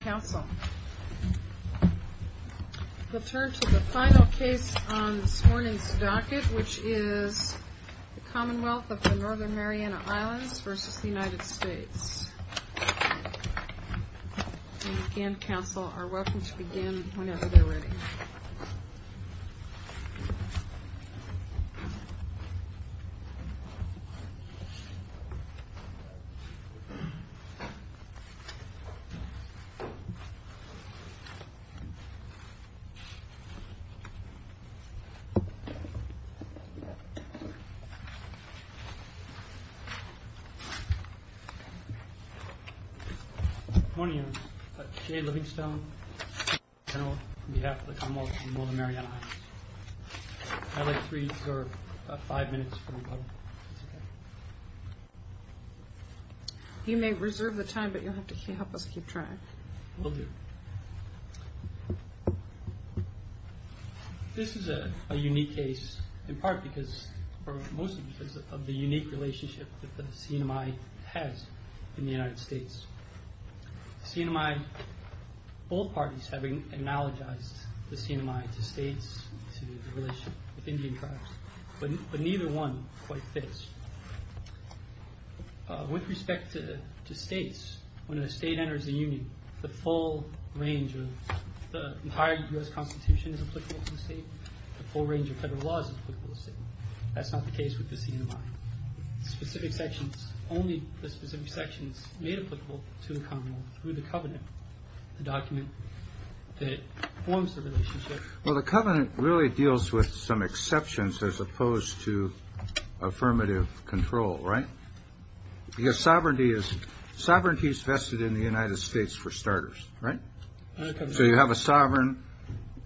Council. We'll turn to the final case on this morning's docket, which is The Commonwealth of The Northern Mariana Islands v. The United States. Again, Council are welcome to begin whenever they're ready. Good morning. I'm Jay Livingstone, Attorney General on behalf of The Commonwealth of The Northern Mariana Islands. I'd like to reserve about five minutes for my brother. You may reserve the time, but you'll have to help us keep track. Will do. This is a unique case, in part because, or mostly because of the unique relationship that the CNMI has in the United States. CNMI, both parties have analogized the CNMI to states, to the relationship with Indian tribes, but neither one quite fits. With respect to states, when a state enters a union, the full range of the entire U.S. Constitution is applicable to the state, the full range of federal laws is applicable to the state. That's not the case with the CNMI. Only the specific sections made applicable to the Commonwealth through the covenant, the document that forms the relationship. Well, the covenant really deals with some exceptions as opposed to affirmative control, right? Because sovereignty is vested in the United States, for starters, right? So you have a sovereign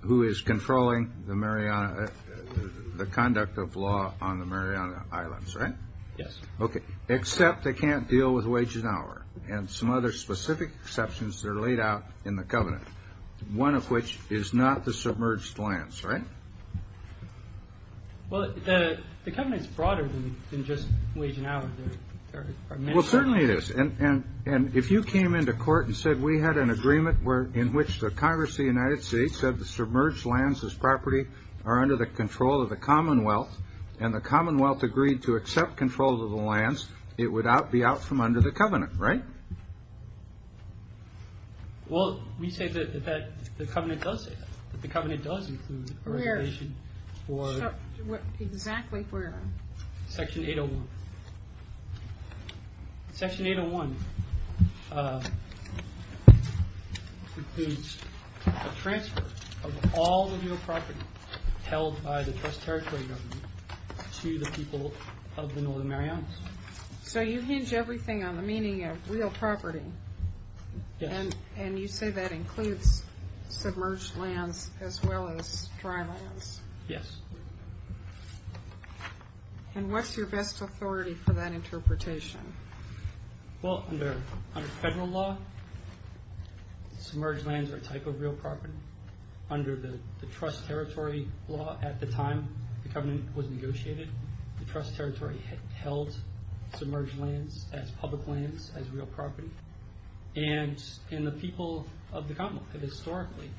who is controlling the conduct of law on the Mariana Islands, right? Yes. Okay. Except they can't deal with wage and hour and some other specific exceptions that are laid out in the covenant, one of which is not the submerged lands, right? Well, the covenant is broader than just wage and hour. Well, certainly it is. And if you came into court and said we had an agreement in which the Congress of the United States said the submerged lands as property are under the control of the Commonwealth, and the Commonwealth agreed to accept control of the lands, it would be out from under the covenant, right? Well, we say that the covenant does say that, that the covenant does include a reservation for... Exactly where? Section 801. Section 801 includes a transfer of all the real property held by the West Territory government to the people of the Northern Marianas. So you hinge everything on the meaning of real property. Yes. And you say that includes submerged lands as well as dry lands. Yes. And what's your best authority for that interpretation? Well, under federal law, submerged lands are a type of real property. Under the trust territory law at the time the covenant was negotiated, the trust territory held submerged lands as public lands, as real property, and the people of the Commonwealth have historically...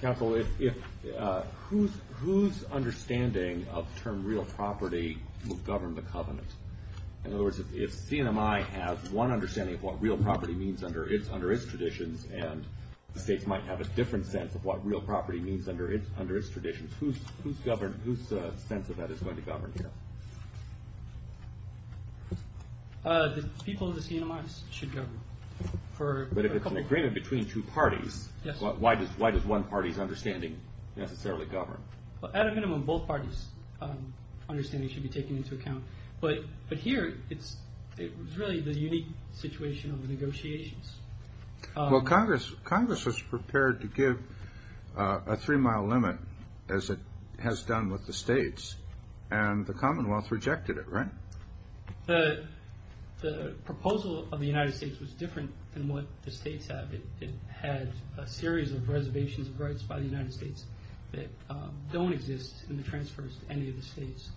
Counsel, whose understanding of the term real property will govern the covenant? In other words, if CNMI has one understanding of what real property means under its traditions, and the states might have a different sense of what real property means under its traditions, whose sense of that is going to govern here? The people of the CNMI should govern. But if it's an agreement between two parties, why does one party's understanding necessarily govern? Well, at a minimum, both parties' understanding should be taken into account. But here, it's really the unique situation of the negotiations. Well, Congress was prepared to give a three-mile limit, as it has done with the states, and the Commonwealth rejected it, right? The proposal of the United States was different than what the states have. It had a series of reservations of rights by the United States that don't exist in the transfers to any of the states.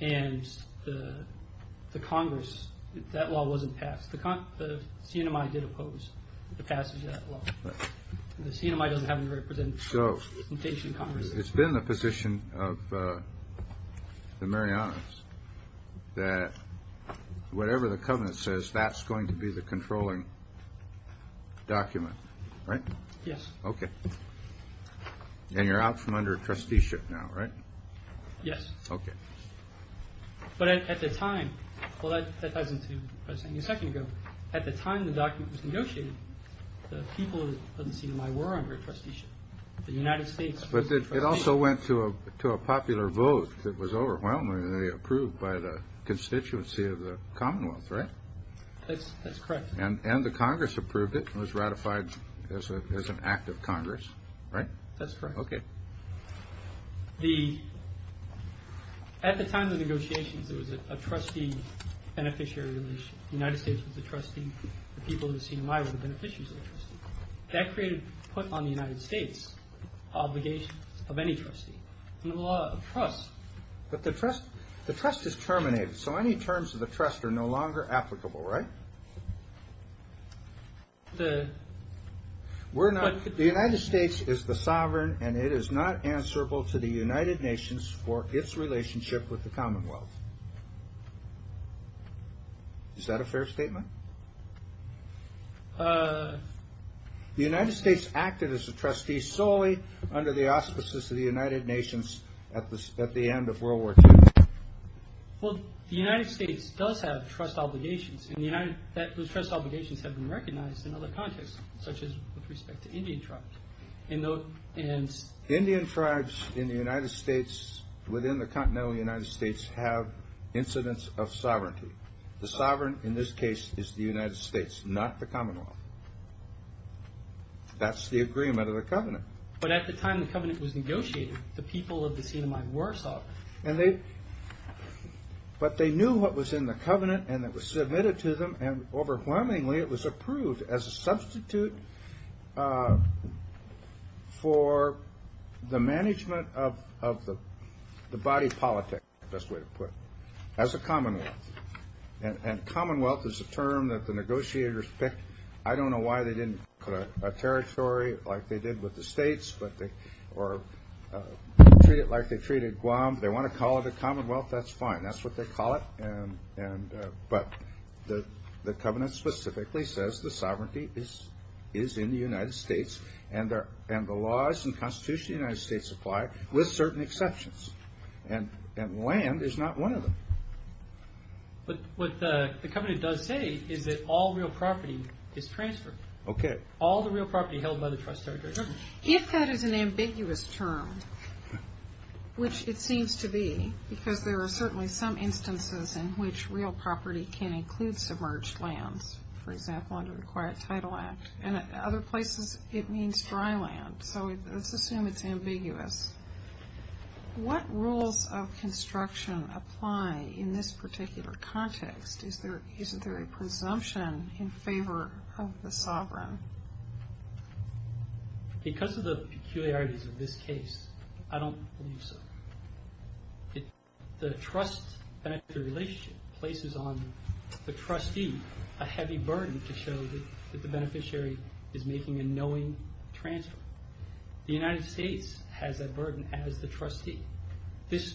And the Congress, that law wasn't passed. The CNMI did oppose the passage of that law. The CNMI doesn't have any representation in Congress. So it's been the position of the Marianas that whatever the covenant says, that's going to be the controlling document, right? Yes. Okay. And you're out from under trusteeship now, right? Yes. Okay. But at the time – well, that ties into what I was saying a second ago. At the time the document was negotiated, the people of the CNMI were under trusteeship. The United States was under trusteeship. But it also went to a popular vote that was overwhelmingly approved by the constituency of the Commonwealth, right? That's correct. And the Congress approved it and was ratified as an act of Congress, right? That's correct. Okay. At the time of the negotiations, it was a trustee-beneficiary relation. The United States was a trustee. The people of the CNMI were the beneficiaries of the trustee. That created – put on the United States obligations of any trustee. And the law of trust – But the trust is terminated. So any terms of the trust are no longer applicable, right? The – We're not – the United States is the sovereign, and it is not answerable to the United Nations for its relationship with the Commonwealth. Is that a fair statement? The United States acted as a trustee solely under the auspices of the United Nations at the end of World War II. Well, the United States does have trust obligations. And the United – those trust obligations have been recognized in other contexts, such as with respect to Indian tribes. And – Indian tribes in the United States, within the continental United States, have incidents of sovereignty. The sovereign in this case is the United States, not the Commonwealth. That's the agreement of the Covenant. But at the time the Covenant was negotiated, the people of the CNMI were sovereign. And they – but they knew what was in the Covenant, and it was submitted to them, and overwhelmingly it was approved as a substitute for the management of the body politics, best way to put it, as a Commonwealth. And Commonwealth is a term that the negotiators picked. I don't know why they didn't put a territory like they did with the states, but they – or treat it like they treated Guam. If they want to call it a Commonwealth, that's fine. That's what they call it. And – but the Covenant specifically says the sovereignty is in the United States, and the laws and constitution of the United States apply, with certain exceptions. And land is not one of them. But what the Covenant does say is that all real property is transferred. Okay. All the real property held by the trust territory. If that is an ambiguous term, which it seems to be, because there are certainly some instances in which real property can include submerged lands, for example under the Quiet Title Act, and other places it means dry land. So let's assume it's ambiguous. What rules of construction apply in this particular context? Isn't there a presumption in favor of the sovereign? Because of the peculiarities of this case, I don't believe so. The trust-benefactor relationship places on the trustee a heavy burden to show that the beneficiary is making a knowing transfer. The United States has that burden as the trustee. The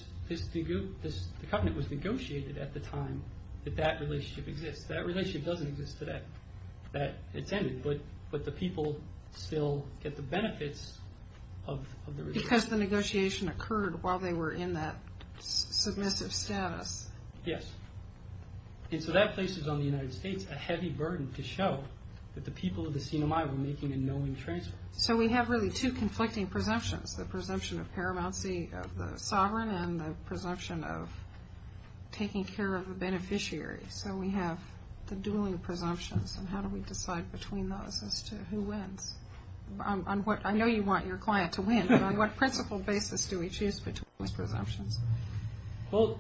Covenant was negotiated at the time that that relationship exists. That relationship doesn't exist today. But the people still get the benefits of the relationship. Because the negotiation occurred while they were in that submissive status. Yes. And so that places on the United States a heavy burden to show that the people of the Sinai were making a knowing transfer. So we have really two conflicting presumptions. The presumption of paramountcy of the sovereign and the presumption of taking care of a beneficiary. So we have the dueling presumptions. And how do we decide between those as to who wins? I know you want your client to win, but on what principle basis do we choose between those presumptions? Well,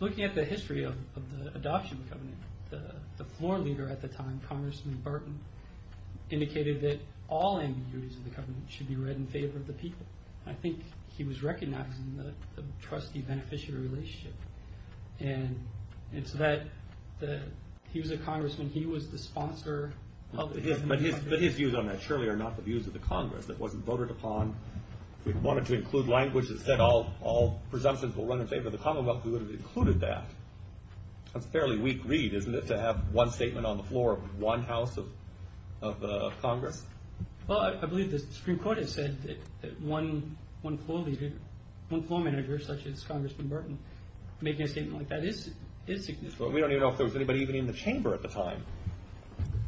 looking at the history of the adoption of the Covenant, the floor leader at the time, Congressman Burton, indicated that all ambiguities of the Covenant should be read in favor of the people. I think he was recognizing the trustee-beneficiary relationship. And so he was a congressman. He was the sponsor of the Covenant. But his views on that surely are not the views of the Congress. That wasn't voted upon. If we wanted to include language that said all presumptions will run in favor of the Commonwealth, we would have included that. That's a fairly weak read, isn't it, to have one statement on the floor of one house of Congress? Well, I believe the Supreme Court has said that one floor leader, one floor manager such as Congressman Burton, making a statement like that is significant. We don't even know if there was anybody even in the chamber at the time.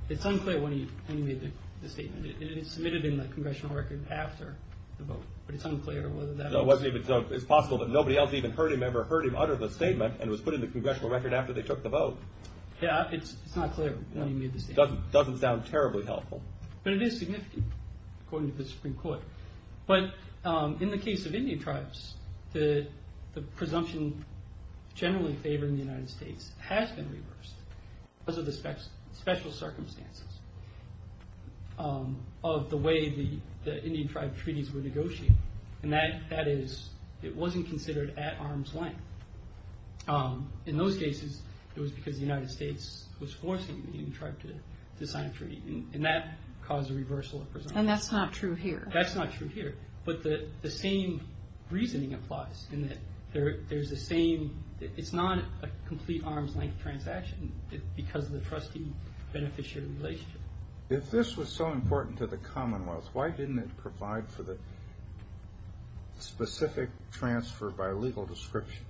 It's unclear when he made the statement. It's submitted in the congressional record after the vote. But it's unclear whether that was. It's possible that nobody else even heard him, and it was put in the congressional record after they took the vote. Yeah, it's not clear when he made the statement. It doesn't sound terribly helpful. But it is significant, according to the Supreme Court. But in the case of Indian tribes, the presumption generally favored in the United States has been reversed because of the special circumstances of the way the Indian tribe treaties were negotiated. And that is it wasn't considered at arm's length. In those cases, it was because the United States was forcing the Indian tribe to sign a treaty, and that caused a reversal of presumption. And that's not true here. That's not true here. But the same reasoning applies in that there's the same— it's not a complete arm's length transaction because of the trustee-beneficiary relationship. If this was so important to the Commonwealth, why didn't it provide for the specific transfer by legal description?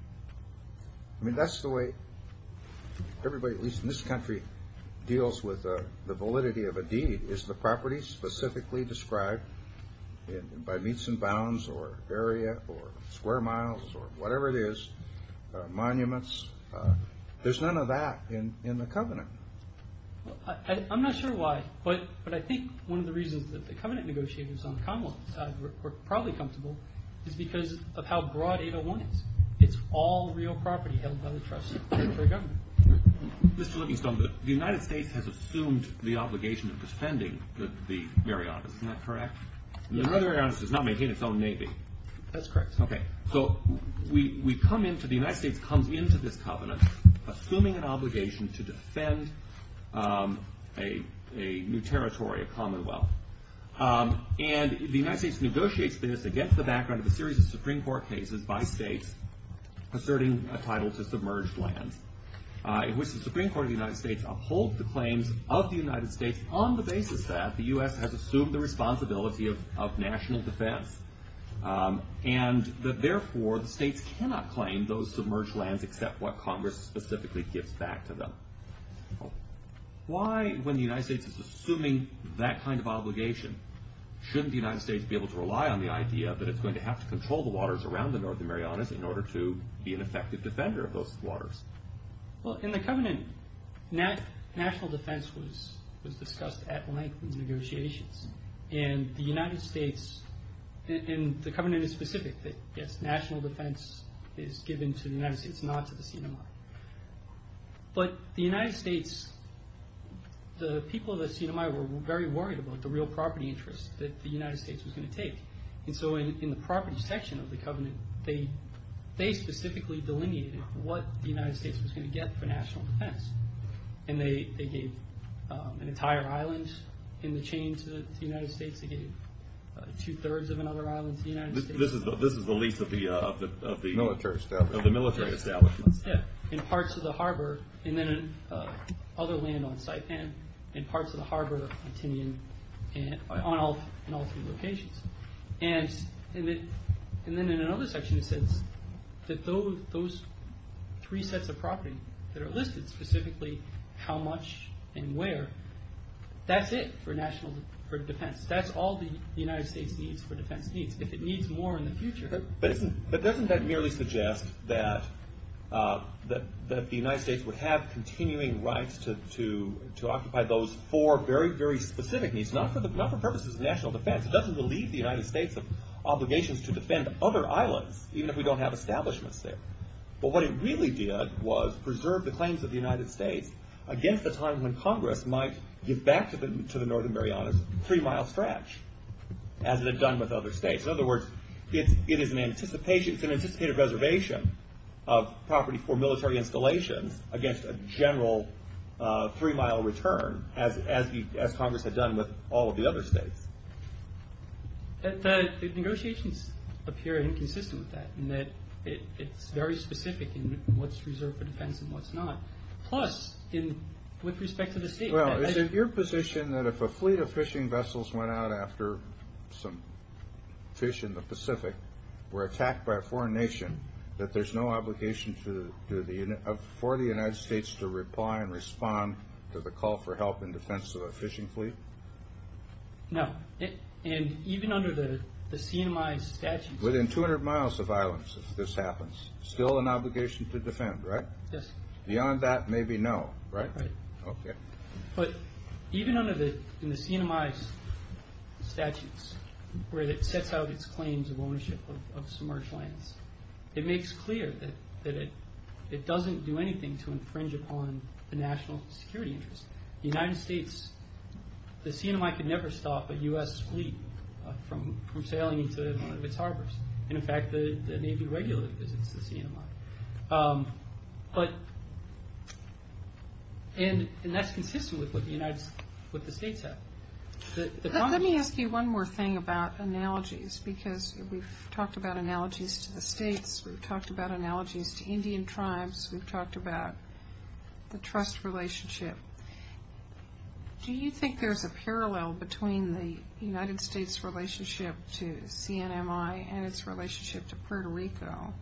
I mean, that's the way everybody, at least in this country, deals with the validity of a deed. Is the property specifically described by meets and bounds or area or square miles or whatever it is, monuments? There's none of that in the covenant. I'm not sure why, but I think one of the reasons that the covenant negotiators on the Commonwealth side were probably comfortable is because of how broad 801 is. It's all real property held by the trustee-beneficiary government. Mr. Livingstone, the United States has assumed the obligation of defending the Marianas. Isn't that correct? Yes. And the Northern Marianas does not maintain its own navy. That's correct. Okay. So the United States comes into this covenant assuming an obligation to defend a new territory, a Commonwealth. And the United States negotiates this against the background of a series of Supreme Court cases by states asserting a title to submerged lands, in which the Supreme Court of the United States upholds the claims of the United States on the basis that the U.S. has assumed the responsibility of national defense and that therefore the states cannot claim those submerged lands except what Congress specifically gives back to them. Why, when the United States is assuming that kind of obligation, shouldn't the United States be able to rely on the idea that it's going to have to control the waters around the Northern Marianas in order to be an effective defender of those waters? Well, in the covenant, national defense was discussed at length in negotiations. And the United States, and the covenant is specific, that yes, national defense is given to the United States, not to the CMI. But the United States, the people of the CMI were very worried about the real property interest that the United States was going to take. And so in the property section of the covenant, they specifically delineated what the United States was going to get for national defense. And they gave an entire island in the chain to the United States. They gave two-thirds of another island to the United States. This is the lease of the military establishment. Of the military establishment. Yeah, in parts of the harbor, and then other land on site, and in parts of the harbor continuing on all three locations. And then in another section it says that those three sets of property that are listed, specifically how much and where, that's it for national defense. That's all the United States needs for defense needs. If it needs more in the future. But doesn't that merely suggest that the United States would have continuing rights to occupy those four very, very specific needs, not for purposes of national defense. It doesn't relieve the United States of obligations to defend other islands, even if we don't have establishments there. But what it really did was preserve the claims of the United States against the time when Congress might give back to the Northern Marianas a three-mile stretch, as it had done with other states. In other words, it is an anticipated reservation of property for military installations against a general three-mile return, as Congress had done with all of the other states. The negotiations appear inconsistent with that, in that it's very specific in what's reserved for defense and what's not. Plus, with respect to the state. Well, is it your position that if a fleet of fishing vessels went out after some fish in the Pacific were attacked by a foreign nation, that there's no obligation for the United States to reply and respond to the call for help in defense of a fishing fleet? No. And even under the CNMI statutes... Within 200 miles of islands, if this happens, still an obligation to defend, right? Yes. Beyond that, maybe no, right? Right. Okay. But even under the CNMI statutes, where it sets out its claims of ownership of submerged lands, it makes clear that it doesn't do anything to infringe upon the national security interests. The United States... The CNMI could never stop a U.S. fleet from sailing into one of its harbors. And, in fact, the Navy regularly visits the CNMI. But... And that's consistent with what the states have. Let me ask you one more thing about analogies, because we've talked about analogies to the states, we've talked about analogies to Indian tribes, we've talked about the trust relationship. Do you think there's a parallel between the United States' relationship to CNMI and its relationship to Puerto Rico?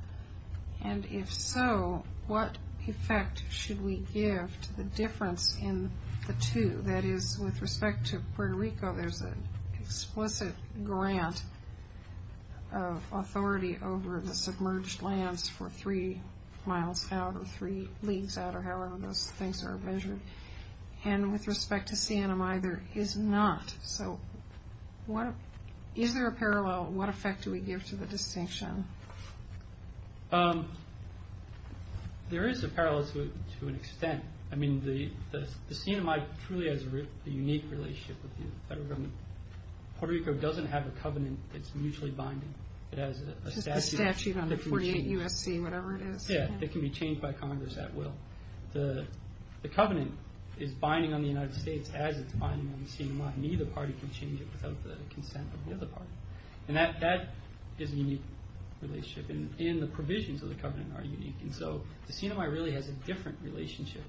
And, if so, what effect should we give to the difference in the two? That is, with respect to Puerto Rico, there's an explicit grant of authority over the submerged lands for three miles out or three leagues out or however those things are measured. And with respect to CNMI, there is not. So is there a parallel? What effect do we give to the distinction? There is a parallel to an extent. I mean, the CNMI truly has a unique relationship with the federal government. Puerto Rico doesn't have a covenant that's mutually binding. It has a statute that can be changed. Just a statute under 48 U.S.C., whatever it is. Yeah, it can be changed by Congress at will. The covenant is binding on the United States as it's binding on the CNMI. Neither party can change it without the consent of the other party. And that is a unique relationship. And the provisions of the covenant are unique. And so the CNMI really has a different relationship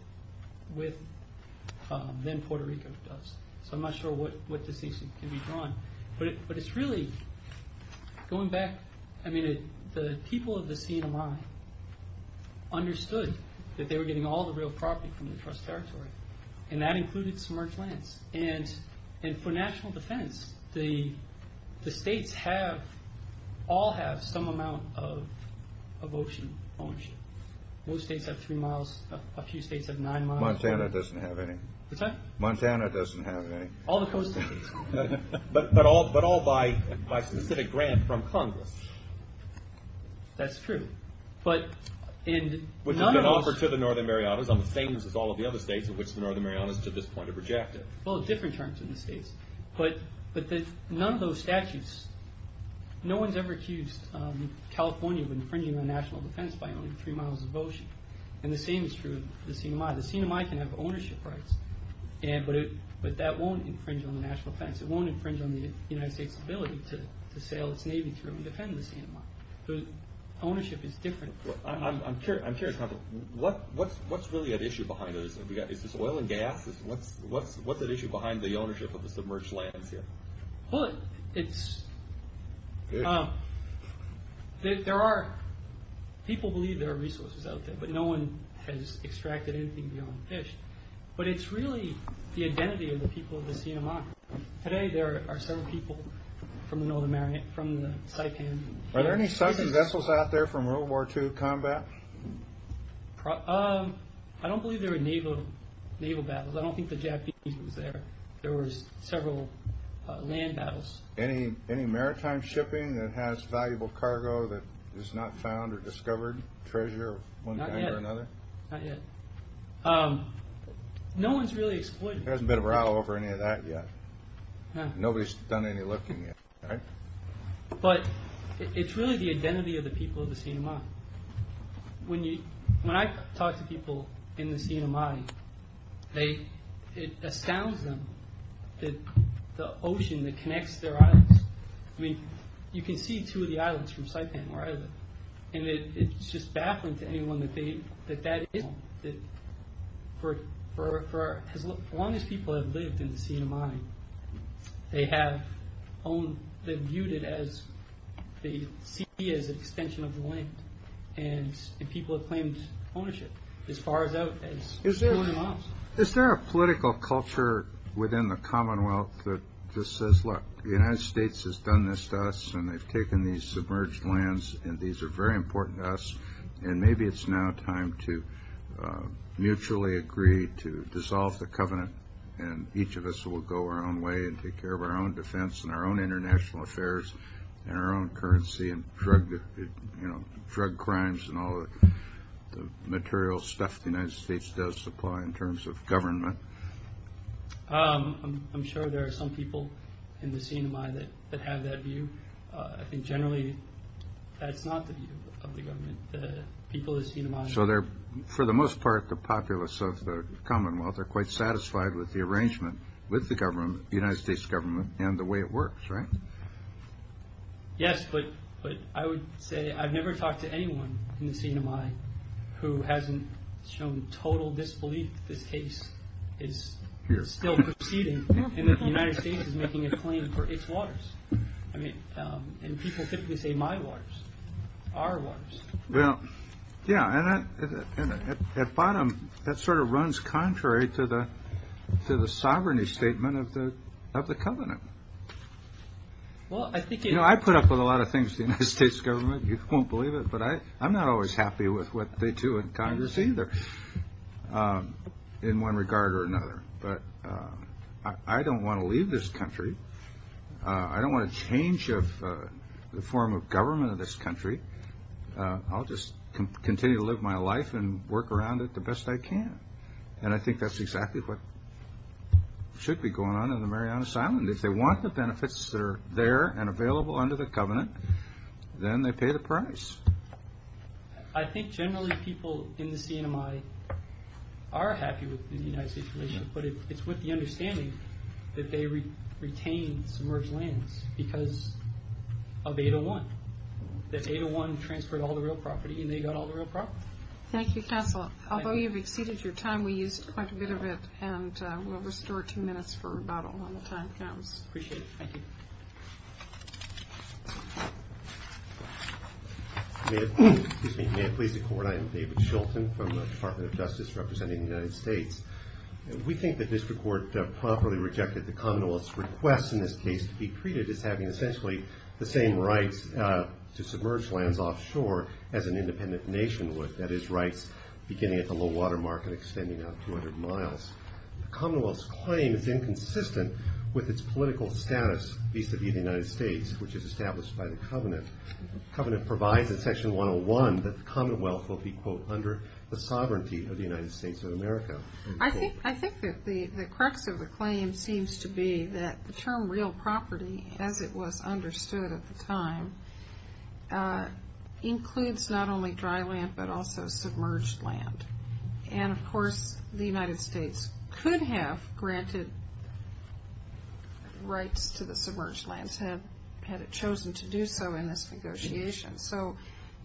than Puerto Rico does. So I'm not sure what distinction can be drawn. But it's really, going back, I mean, the people of the CNMI understood that they were getting all the real property from the trust territory, and that included submerged lands. And for national defense, the states all have some amount of ocean ownership. Most states have three miles. A few states have nine miles. Montana doesn't have any. What's that? Montana doesn't have any. All the coast states. But all by specific grant from Congress. That's true. Which is an offer to the Northern Marianas, of which the Northern Marianas to this point have rejected. Well, different terms in the states. But none of those statutes, no one's ever accused California of infringing on national defense by owning three miles of ocean. And the same is true of the CNMI. The CNMI can have ownership rights. But that won't infringe on the national defense. It won't infringe on the United States' ability to sail its navy through and defend the CNMI. Ownership is different. I'm curious, Hunter. What's really at issue behind this? Is this oil and gas? What's at issue behind the ownership of the submerged lands here? Well, people believe there are resources out there, but no one has extracted anything beyond fish. But it's really the identity of the people of the CNMI. Today there are several people from the Northern Mariana, from the Saipan. Are there any southern vessels out there from World War II combat? I don't believe there were naval battles. I don't think the Japanese was there. There were several land battles. Any maritime shipping that has valuable cargo that is not found or discovered, treasure of one kind or another? Not yet. No one's really exploited. There hasn't been a row over any of that yet. Nobody's done any looking yet. But it's really the identity of the people of the CNMI. When I talk to people in the CNMI, it astounds them that the ocean that connects their islands. I mean, you can see two of the islands from Saipan where I live, and it's just baffling to anyone that that is home. For as long as people have lived in the CNMI, they have viewed it as the extension of the land, and people have claimed ownership as far as out as 200 miles. Is there a political culture within the Commonwealth that just says, look, the United States has done this to us, and they've taken these submerged lands, and these are very important to us, and maybe it's now time to mutually agree to dissolve the covenant, and each of us will go our own way and take care of our own defense and our own international affairs and our own currency and drug crimes and all the material stuff the United States does supply in terms of government? I'm sure there are some people in the CNMI that have that view. I think generally that's not the view of the government, the people of the CNMI. So they're, for the most part, the populace of the Commonwealth. They're quite satisfied with the arrangement with the government, the United States government, and the way it works, right? Yes, but I would say I've never talked to anyone in the CNMI who hasn't shown total disbelief that this case is still proceeding and that the United States is making a claim for its waters. I mean, and people typically say my waters, our waters. Well, yeah, and at bottom that sort of runs contrary to the sovereignty statement of the covenant. You know, I put up with a lot of things in the United States government. You won't believe it, but I'm not always happy with what they do in Congress either in one regard or another, but I don't want to leave this country. I don't want to change the form of government of this country. I'll just continue to live my life and work around it the best I can, and I think that's exactly what should be going on in the Marianas Island. If they want the benefits that are there and available under the covenant, then they pay the price. I think generally people in the CNMI are happy with the United States relation, but it's with the understanding that they retain submerged lands because of 801, that 801 transferred all the real property, and they got all the real property. Thank you, Counselor. Although you've exceeded your time, we used quite a bit of it, and we'll restore two minutes for rebuttal when the time comes. Appreciate it. Thank you. May it please the Court, I am David Shilton from the Department of Justice representing the United States. We think the district court properly rejected the Commonwealth's request in this case to be treated as having essentially the same rights to submerged lands offshore as an independent nation would, that is, rights beginning at the low water market extending out 200 miles. The Commonwealth's claim is inconsistent with its political status vis-à-vis the United States, which is established by the covenant. The covenant provides in section 101 that the Commonwealth will be, quote, under the sovereignty of the United States of America. I think that the crux of the claim seems to be that the term real property, as it was understood at the time, includes not only dry land but also submerged land. And, of course, the United States could have granted rights to the submerged lands had it chosen to do so in this negotiation. So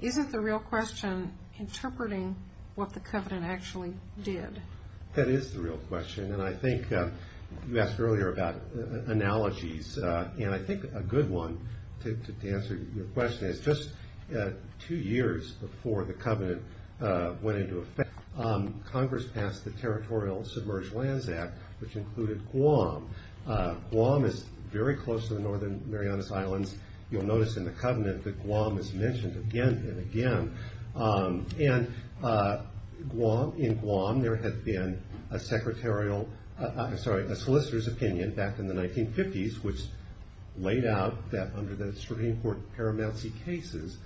isn't the real question interpreting what the covenant actually did? That is the real question, and I think you asked earlier about analogies, and I think a good one to answer your question is just two years before the covenant went into effect, Congress passed the Territorial Submerged Lands Act, which included Guam. Guam is very close to the northern Marianas Islands. You'll notice in the covenant that Guam is mentioned again and again. And in Guam there had been a solicitor's opinion back in the 1950s, which laid out that under the Supreme Court paramouncy cases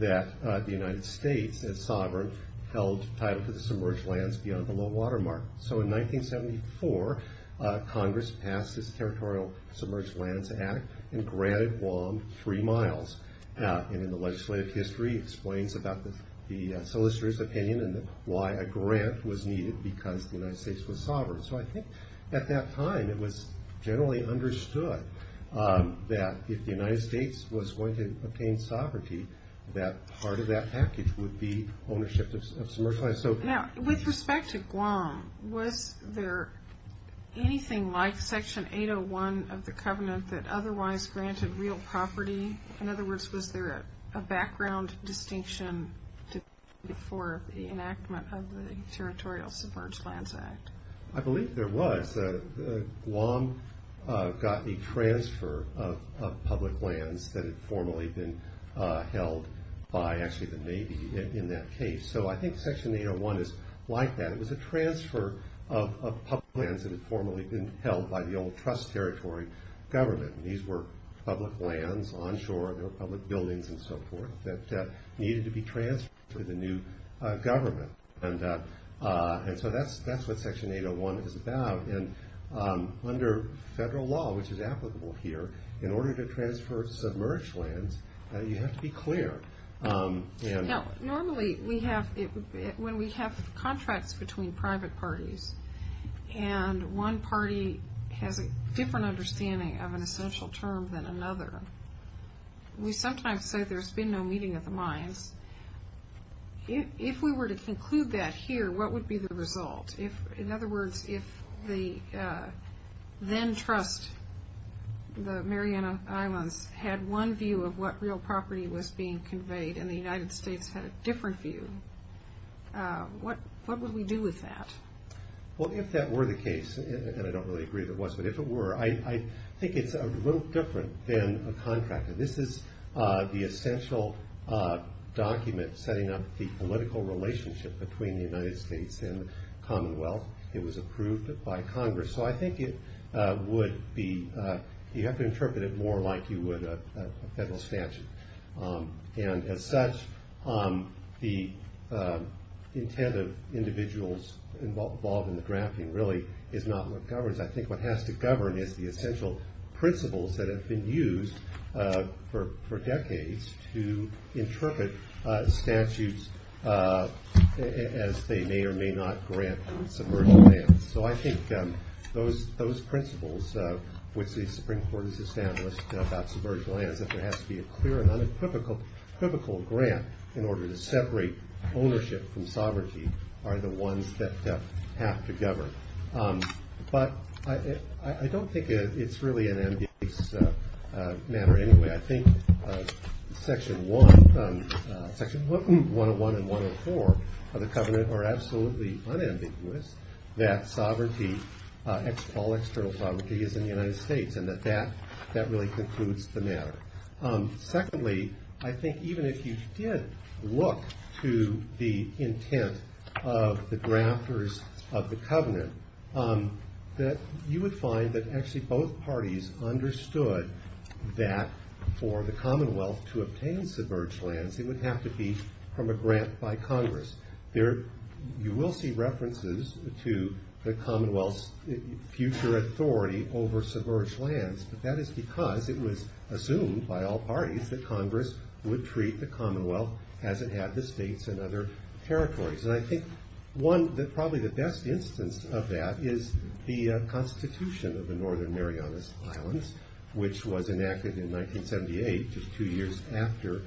that the United States, as sovereign, held title to the submerged lands beyond the low water mark. So in 1974, Congress passed this Territorial Submerged Lands Act and granted Guam three miles. And in the legislative history, it explains about the solicitor's opinion and why a grant was needed because the United States was sovereign. So I think at that time it was generally understood that if the United States was going to obtain sovereignty, that part of that package would be ownership of submerged lands. Now, with respect to Guam, was there anything like Section 801 of the covenant that otherwise granted real property? In other words, was there a background distinction for the enactment of the Territorial Submerged Lands Act? I believe there was. Guam got the transfer of public lands that had formerly been held by actually the Navy in that case. So I think Section 801 is like that. It was a transfer of public lands that had formerly been held by the old trust territory government. These were public lands, onshore, there were public buildings and so forth that needed to be transferred to the new government. And so that's what Section 801 is about. And under federal law, which is applicable here, in order to transfer submerged lands, you have to be clear. Now, normally when we have contracts between private parties and one party has a different understanding of an essential term than another, we sometimes say there's been no meeting of the minds. If we were to conclude that here, what would be the result? In other words, if the then-trust, the Mariana Islands, had one view of what real property was being conveyed and the United States had a different view, what would we do with that? Well, if that were the case, and I don't really agree if it was, but if it were, I think it's a little different than a contract. This is the essential document setting up the political relationship between the United States and the Commonwealth. It was approved by Congress. So I think it would be, you have to interpret it more like you would a federal statute. And as such, the intent of individuals involved in the drafting really is not what governs. I think what has to govern is the essential principles that have been used for decades to interpret statutes as they may or may not grant submerged lands. So I think those principles which the Supreme Court has established about submerged lands, that there has to be a clear and unequivocal grant in order to separate ownership from sovereignty, are the ones that have to govern. But I don't think it's really an ambiguous matter anyway. I think Section 101 and 104 of the covenant are absolutely unambiguous that all external sovereignty is in the United States and that that really concludes the matter. Secondly, I think even if you did look to the intent of the grafters of the covenant, that you would find that actually both parties understood that for the Commonwealth to obtain submerged lands, it would have to be from a grant by Congress. You will see references to the Commonwealth's future authority over submerged lands, but that is because it was assumed by all parties that Congress would treat the Commonwealth as it had the states and other territories. And I think probably the best instance of that is the Constitution of the Northern Marianas Islands, which was enacted in 1978, just two years after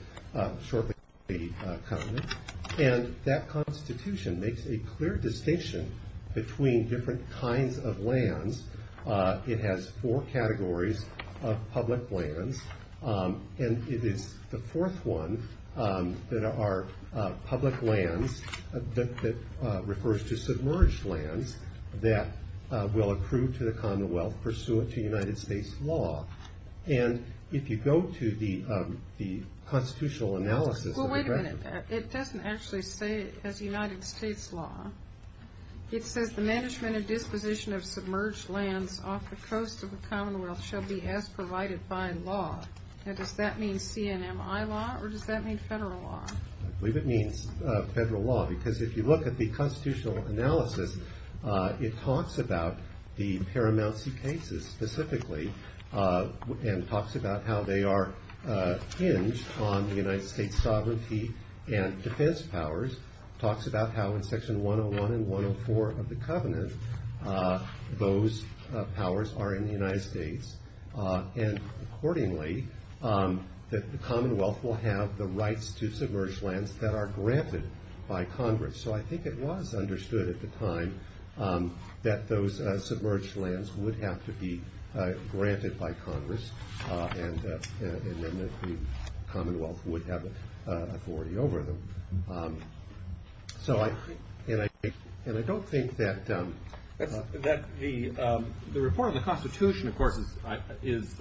shortly after the covenant. And that Constitution makes a clear distinction between different kinds of lands. It has four categories of public lands, and it is the fourth one that are public lands that refers to submerged lands that will accrue to the Commonwealth pursuant to United States law. And if you go to the constitutional analysis of the grafters... Well, wait a minute. It doesn't actually say as United States law. It says the management and disposition of submerged lands off the coast of the Commonwealth shall be as provided by law. Now, does that mean CNMI law, or does that mean federal law? I believe it means federal law, because if you look at the constitutional analysis, it talks about the Paramount C cases specifically, and talks about how they are hinged on the United States sovereignty and defense powers. It talks about how in section 101 and 104 of the covenant, those powers are in the United States. And accordingly, the Commonwealth will have the rights to submerged lands that are granted by Congress. So I think it was understood at the time that those submerged lands would have to be granted by Congress, and that the Commonwealth would have authority over them. And I don't think that... The report on the Constitution, of course, is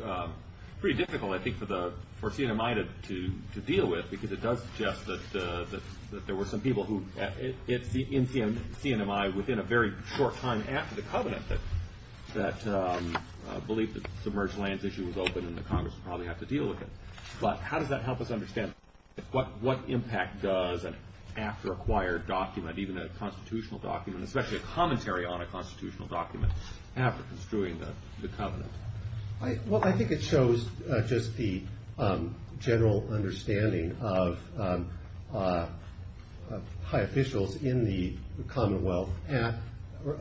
pretty difficult, I think, for CNMI to deal with, because it does suggest that there were some people who... within a very short time after the covenant that believed that the submerged lands issue was open and that Congress would probably have to deal with it. But how does that help us understand what impact does an after-acquired document, even a constitutional document, especially a commentary on a constitutional document, have for construing the covenant? Well, I think it shows just the general understanding of high officials in the Commonwealth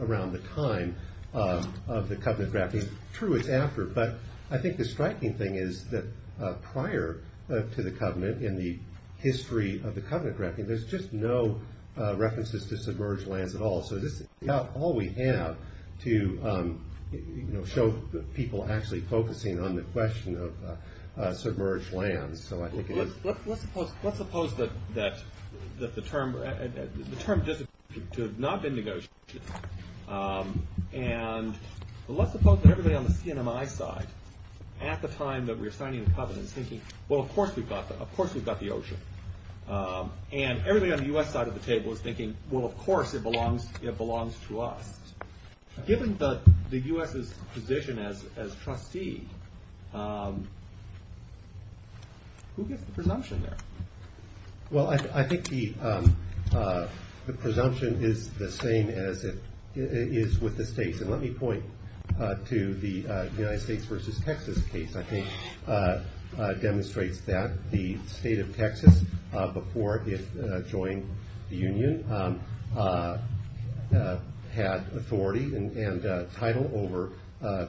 around the time of the covenant drafting. True, it's after, but I think the striking thing is that prior to the covenant, in the history of the covenant drafting, there's just no references to submerged lands at all. So this is about all we have to show people actually focusing on the question of submerged lands. So I think it was... Let's suppose that the term disappeared to have not been negotiated. And let's suppose that everybody on the CNMI side, at the time that we were signing the covenant, was thinking, well, of course we've got the ocean. And everybody on the U.S. side of the table was thinking, well, of course it belongs to us. Given the U.S.'s position as trustee, who gets the presumption there? Well, I think the presumption is the same as it is with the states. And let me point to the United States versus Texas case, I think, demonstrates that the state of Texas, before it joined the Union, had authority and title over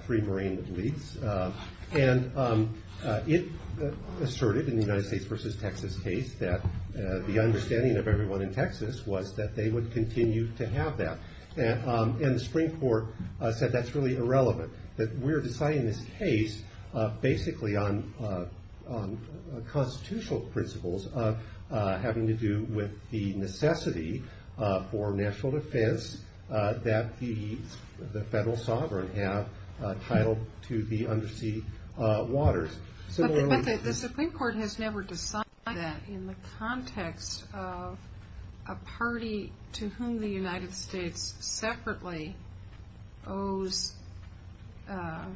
three marine fleets. And it asserted, in the United States versus Texas case, that the understanding of everyone in Texas was that they would continue to have that. And the Supreme Court said that's really irrelevant, that we're deciding this case basically on constitutional principles of having to do with the necessity for national defense that the federal sovereign have title to the undersea waters. But the Supreme Court has never decided that in the context of a party to whom the United States separately owes a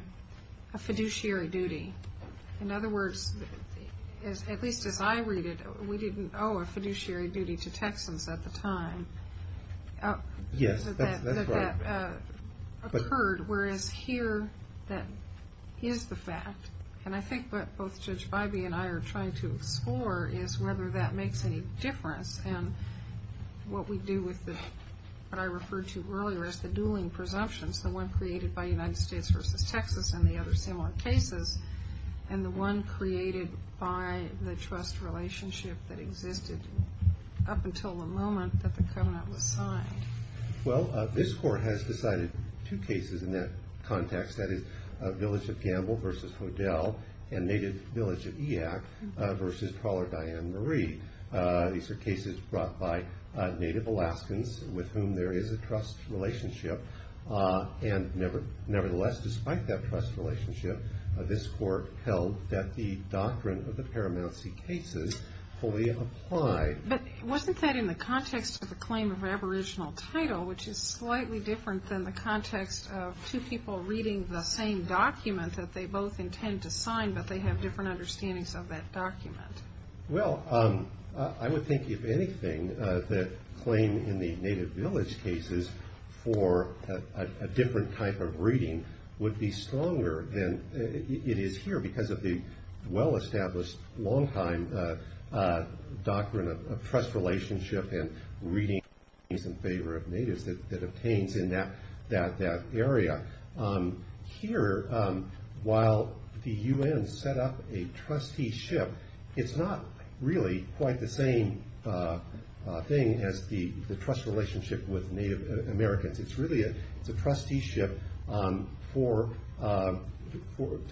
fiduciary duty. In other words, at least as I read it, we didn't owe a fiduciary duty to Texans at the time. Yes, that's right. Whereas here, that is the fact. And I think what both Judge Bybee and I are trying to explore is whether that makes any difference in what we do with what I referred to earlier as the dueling presumptions, the one created by the United States versus Texas and the other similar cases, and the one created by the trust relationship that existed up until the moment that the covenant was signed. Well, this court has decided two cases in that context, that is Village of Gamble versus Hodel and Native Village of Eak versus Trawler Diane Marie. These are cases brought by Native Alaskans with whom there is a trust relationship. And nevertheless, despite that trust relationship, this court held that the doctrine of the Paramount Sea cases fully applied. But wasn't that in the context of the claim of aboriginal title, which is slightly different than the context of two people reading the same document that they both intend to sign, but they have different understandings of that document? Well, I would think if anything, the claim in the Native Village cases for a different type of reading would be stronger than it is here because of the well-established longtime doctrine of trust relationship and reading in favor of natives that obtains in that area. Here, while the U.N. set up a trusteeship, it's not really quite the same thing as the trust relationship with Native Americans. It's really a trusteeship to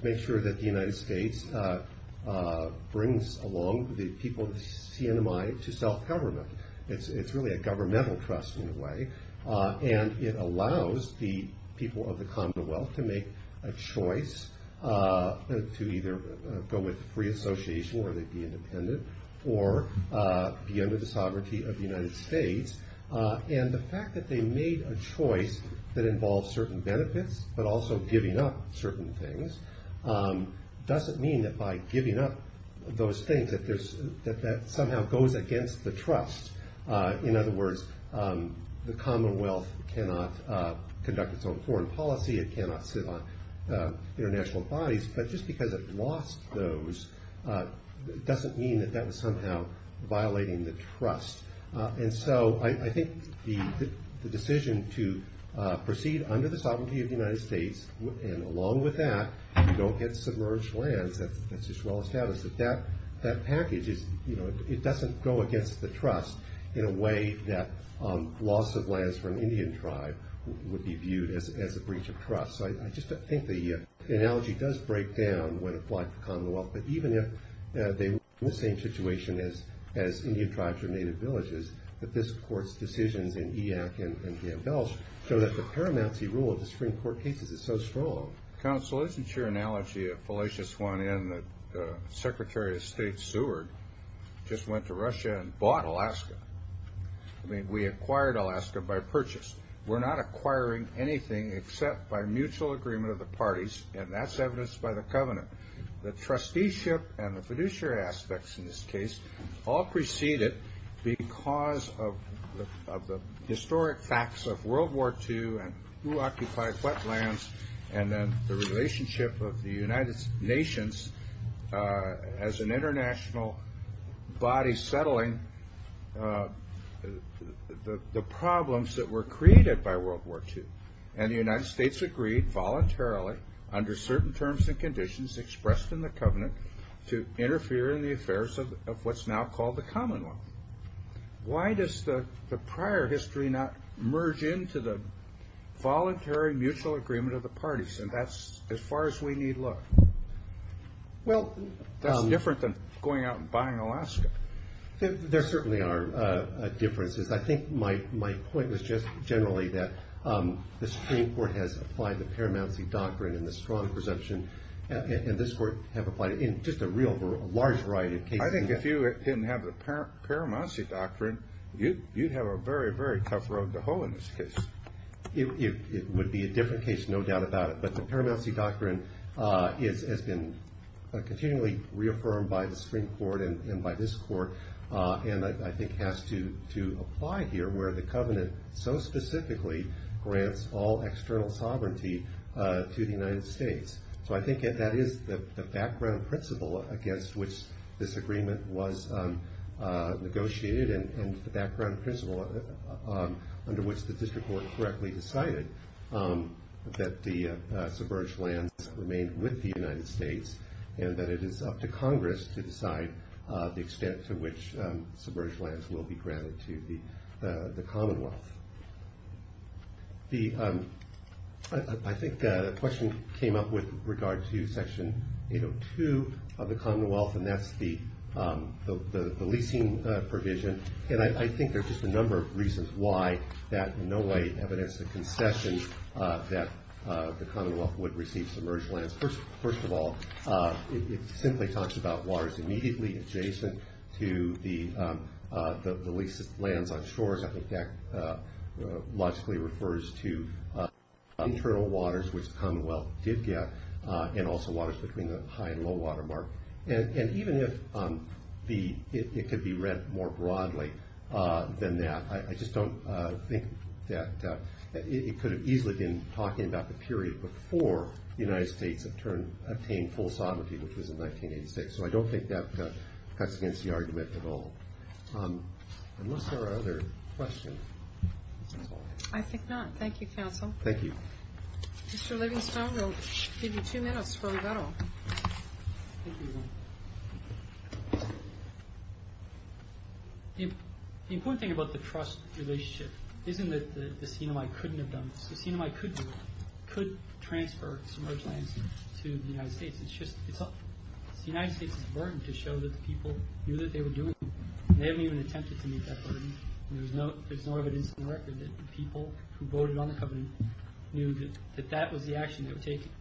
make sure that the United States brings along the people of the CNMI to self-government. It's really a governmental trust in a way, and it allows the people of the Commonwealth to make a choice to either go with free association or they'd be independent or be under the sovereignty of the United States. And the fact that they made a choice that involves certain benefits but also giving up certain things doesn't mean that by giving up those things that that somehow goes against the trust. In other words, the Commonwealth cannot conduct its own foreign policy. It cannot sit on international bodies, but just because it lost those doesn't mean that that was somehow violating the trust. And so I think the decision to proceed under the sovereignty of the United States and along with that, don't get submerged lands, that's just well established that that package doesn't go against the trust in a way that loss of lands for an Indian tribe would be viewed as a breach of trust. So I just think the analogy does break down when applied to the Commonwealth, but even if they were in the same situation as Indian tribes or Native villages, that this court's decisions in EAC and Gambell show that the paramount rule of the Supreme Court cases is so strong. Counsel, isn't your analogy a fallacious one in that Secretary of State Seward just went to Russia and bought Alaska? I mean, we acquired Alaska by purchase. We're not acquiring anything except by mutual agreement of the parties, and that's evidenced by the covenant. The trusteeship and the fiduciary aspects in this case all preceded because of the historic facts of World War II and who occupied what lands and then the relationship of the United Nations as an international body settling the problems that were created by World War II. And the United States agreed voluntarily under certain terms and conditions expressed in the covenant to interfere in the affairs of what's now called the Commonwealth. Why does the prior history not merge into the voluntary mutual agreement of the parties? And that's as far as we need look. That's different than going out and buying Alaska. There certainly are differences. I think my point was just generally that the Supreme Court has applied the paramount doctrine and the strong presumption, and this court have applied it in just a real large variety of cases. I think if you didn't have the paramount doctrine, you'd have a very, very tough road to hoe in this case. It would be a different case, no doubt about it, but the paramount doctrine has been continually reaffirmed by the Supreme Court and by this court and I think has to apply here where the covenant so specifically grants all external sovereignty to the United States. So I think that is the background principle against which this agreement was negotiated and the background principle under which the district court correctly decided that the submerged lands remain with the United States and that it is up to Congress to decide the extent to which submerged lands will be granted to the Commonwealth. I think the question came up with regard to Section 802 of the Commonwealth and that's the leasing provision and I think there's just a number of reasons why that in no way evidenced the concession that the Commonwealth would receive submerged lands. First of all, it simply talks about waters immediately adjacent to the leased lands on shores. I think that logically refers to internal waters which the Commonwealth did get and also waters between the high and low water mark. And even if it could be read more broadly than that, I just don't think that it could have easily been talking about the period before the United States obtained full sovereignty, which was in 1986. So I don't think that cuts against the argument at all. Unless there are other questions. I think not. Thank you, counsel. Thank you. Mr. Livingstone, we'll give you two minutes for rebuttal. The important thing about the trust relationship isn't that the CNMI couldn't have done this. The CNMI could do it, could transfer submerged lands to the United States. It's the United States' burden to show that the people knew that they were doing it. They haven't even attempted to meet that burden. There's no evidence in the record that the people who voted on the covenant knew that that was the action they were taking.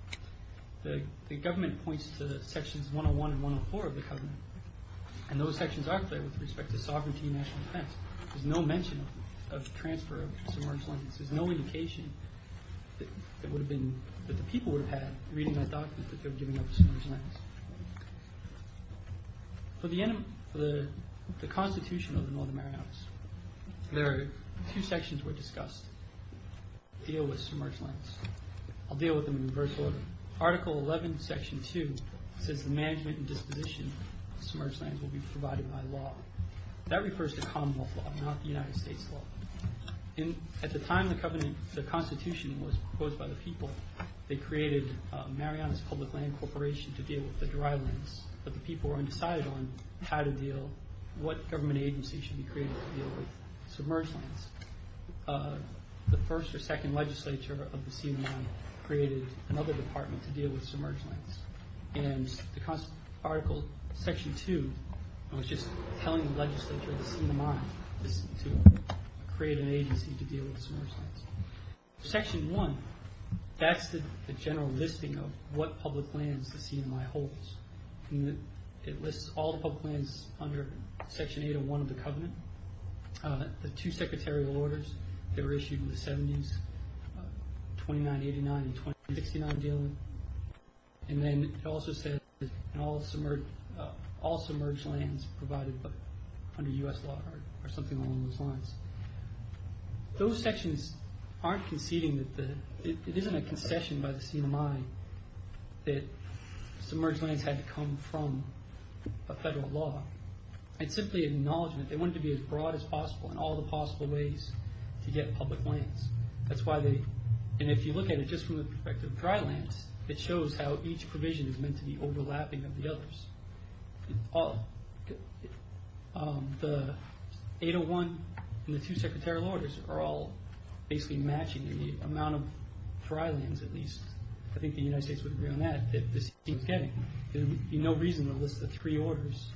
The government points to sections 101 and 104 of the covenant, and those sections are clear with respect to sovereignty and national defense. There's no mention of transfer of submerged lands. There's no indication that the people would have had reading that document that they were giving up submerged lands. For the Constitution of the Northern Marianas, there are two sections that were discussed that deal with submerged lands. I'll deal with them in reverse order. Article 11, Section 2 says the management and disposition of submerged lands will be provided by law. That refers to common law, not the United States law. At the time the Constitution was proposed by the people, they created Marianas Public Land Corporation to deal with the dry lands, but the people were undecided on how to deal, what government agency should be created to deal with submerged lands. The first or second legislature of the scene of mine created another department to deal with submerged lands. And the article, Section 2, was just telling the legislature of the scene of mine to create an agency to deal with submerged lands. Section 1, that's the general listing of what public lands the scene of mine holds. It lists all the public lands under Section 801 of the Covenant. The two secretarial orders that were issued in the 70s, 2989 and 2069 dealing. And then it also says all submerged lands provided under U.S. law or something along those lines. Those sections aren't conceding, it isn't a concession by the scene of mine that submerged lands had to come from a federal law. It's simply an acknowledgment. They wanted to be as broad as possible in all the possible ways to get public lands. And if you look at it just from the perspective of dry lands, it shows how each provision is meant to be overlapping of the others. The 801 and the two secretarial orders are all basically matching the amount of dry lands at least. I think the United States would agree on that, that the scene was getting. There would be no reason to list the three orders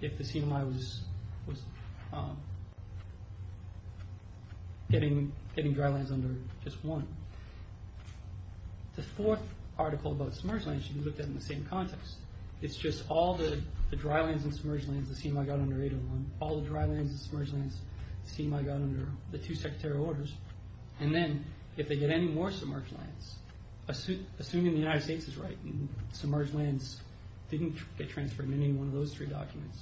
if the scene of mine was getting dry lands under just one. The fourth article about submerged lands should be looked at in the same context. It's just all the dry lands and submerged lands the scene of mine got under 801, all the dry lands and submerged lands the scene of mine got under the two secretarial orders. And then if they get any more submerged lands, assuming the United States is right and submerged lands didn't get transferred in any one of those three documents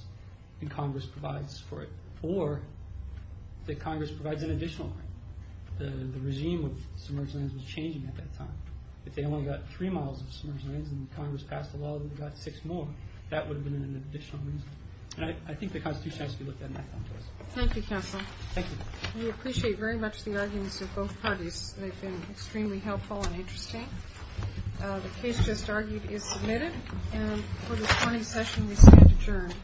and Congress provides for it, or that Congress provides an additional line. The regime of submerged lands was changing at that time. If they only got three miles of submerged lands and Congress passed a law that got six more, that would have been an additional reason. And I think the Constitution has to be looked at in that context. Thank you, Counsel. Thank you. We appreciate very much the arguments of both parties. They've been extremely helpful and interesting. The case just argued is submitted. And for this morning's session we stand adjourned. All rise.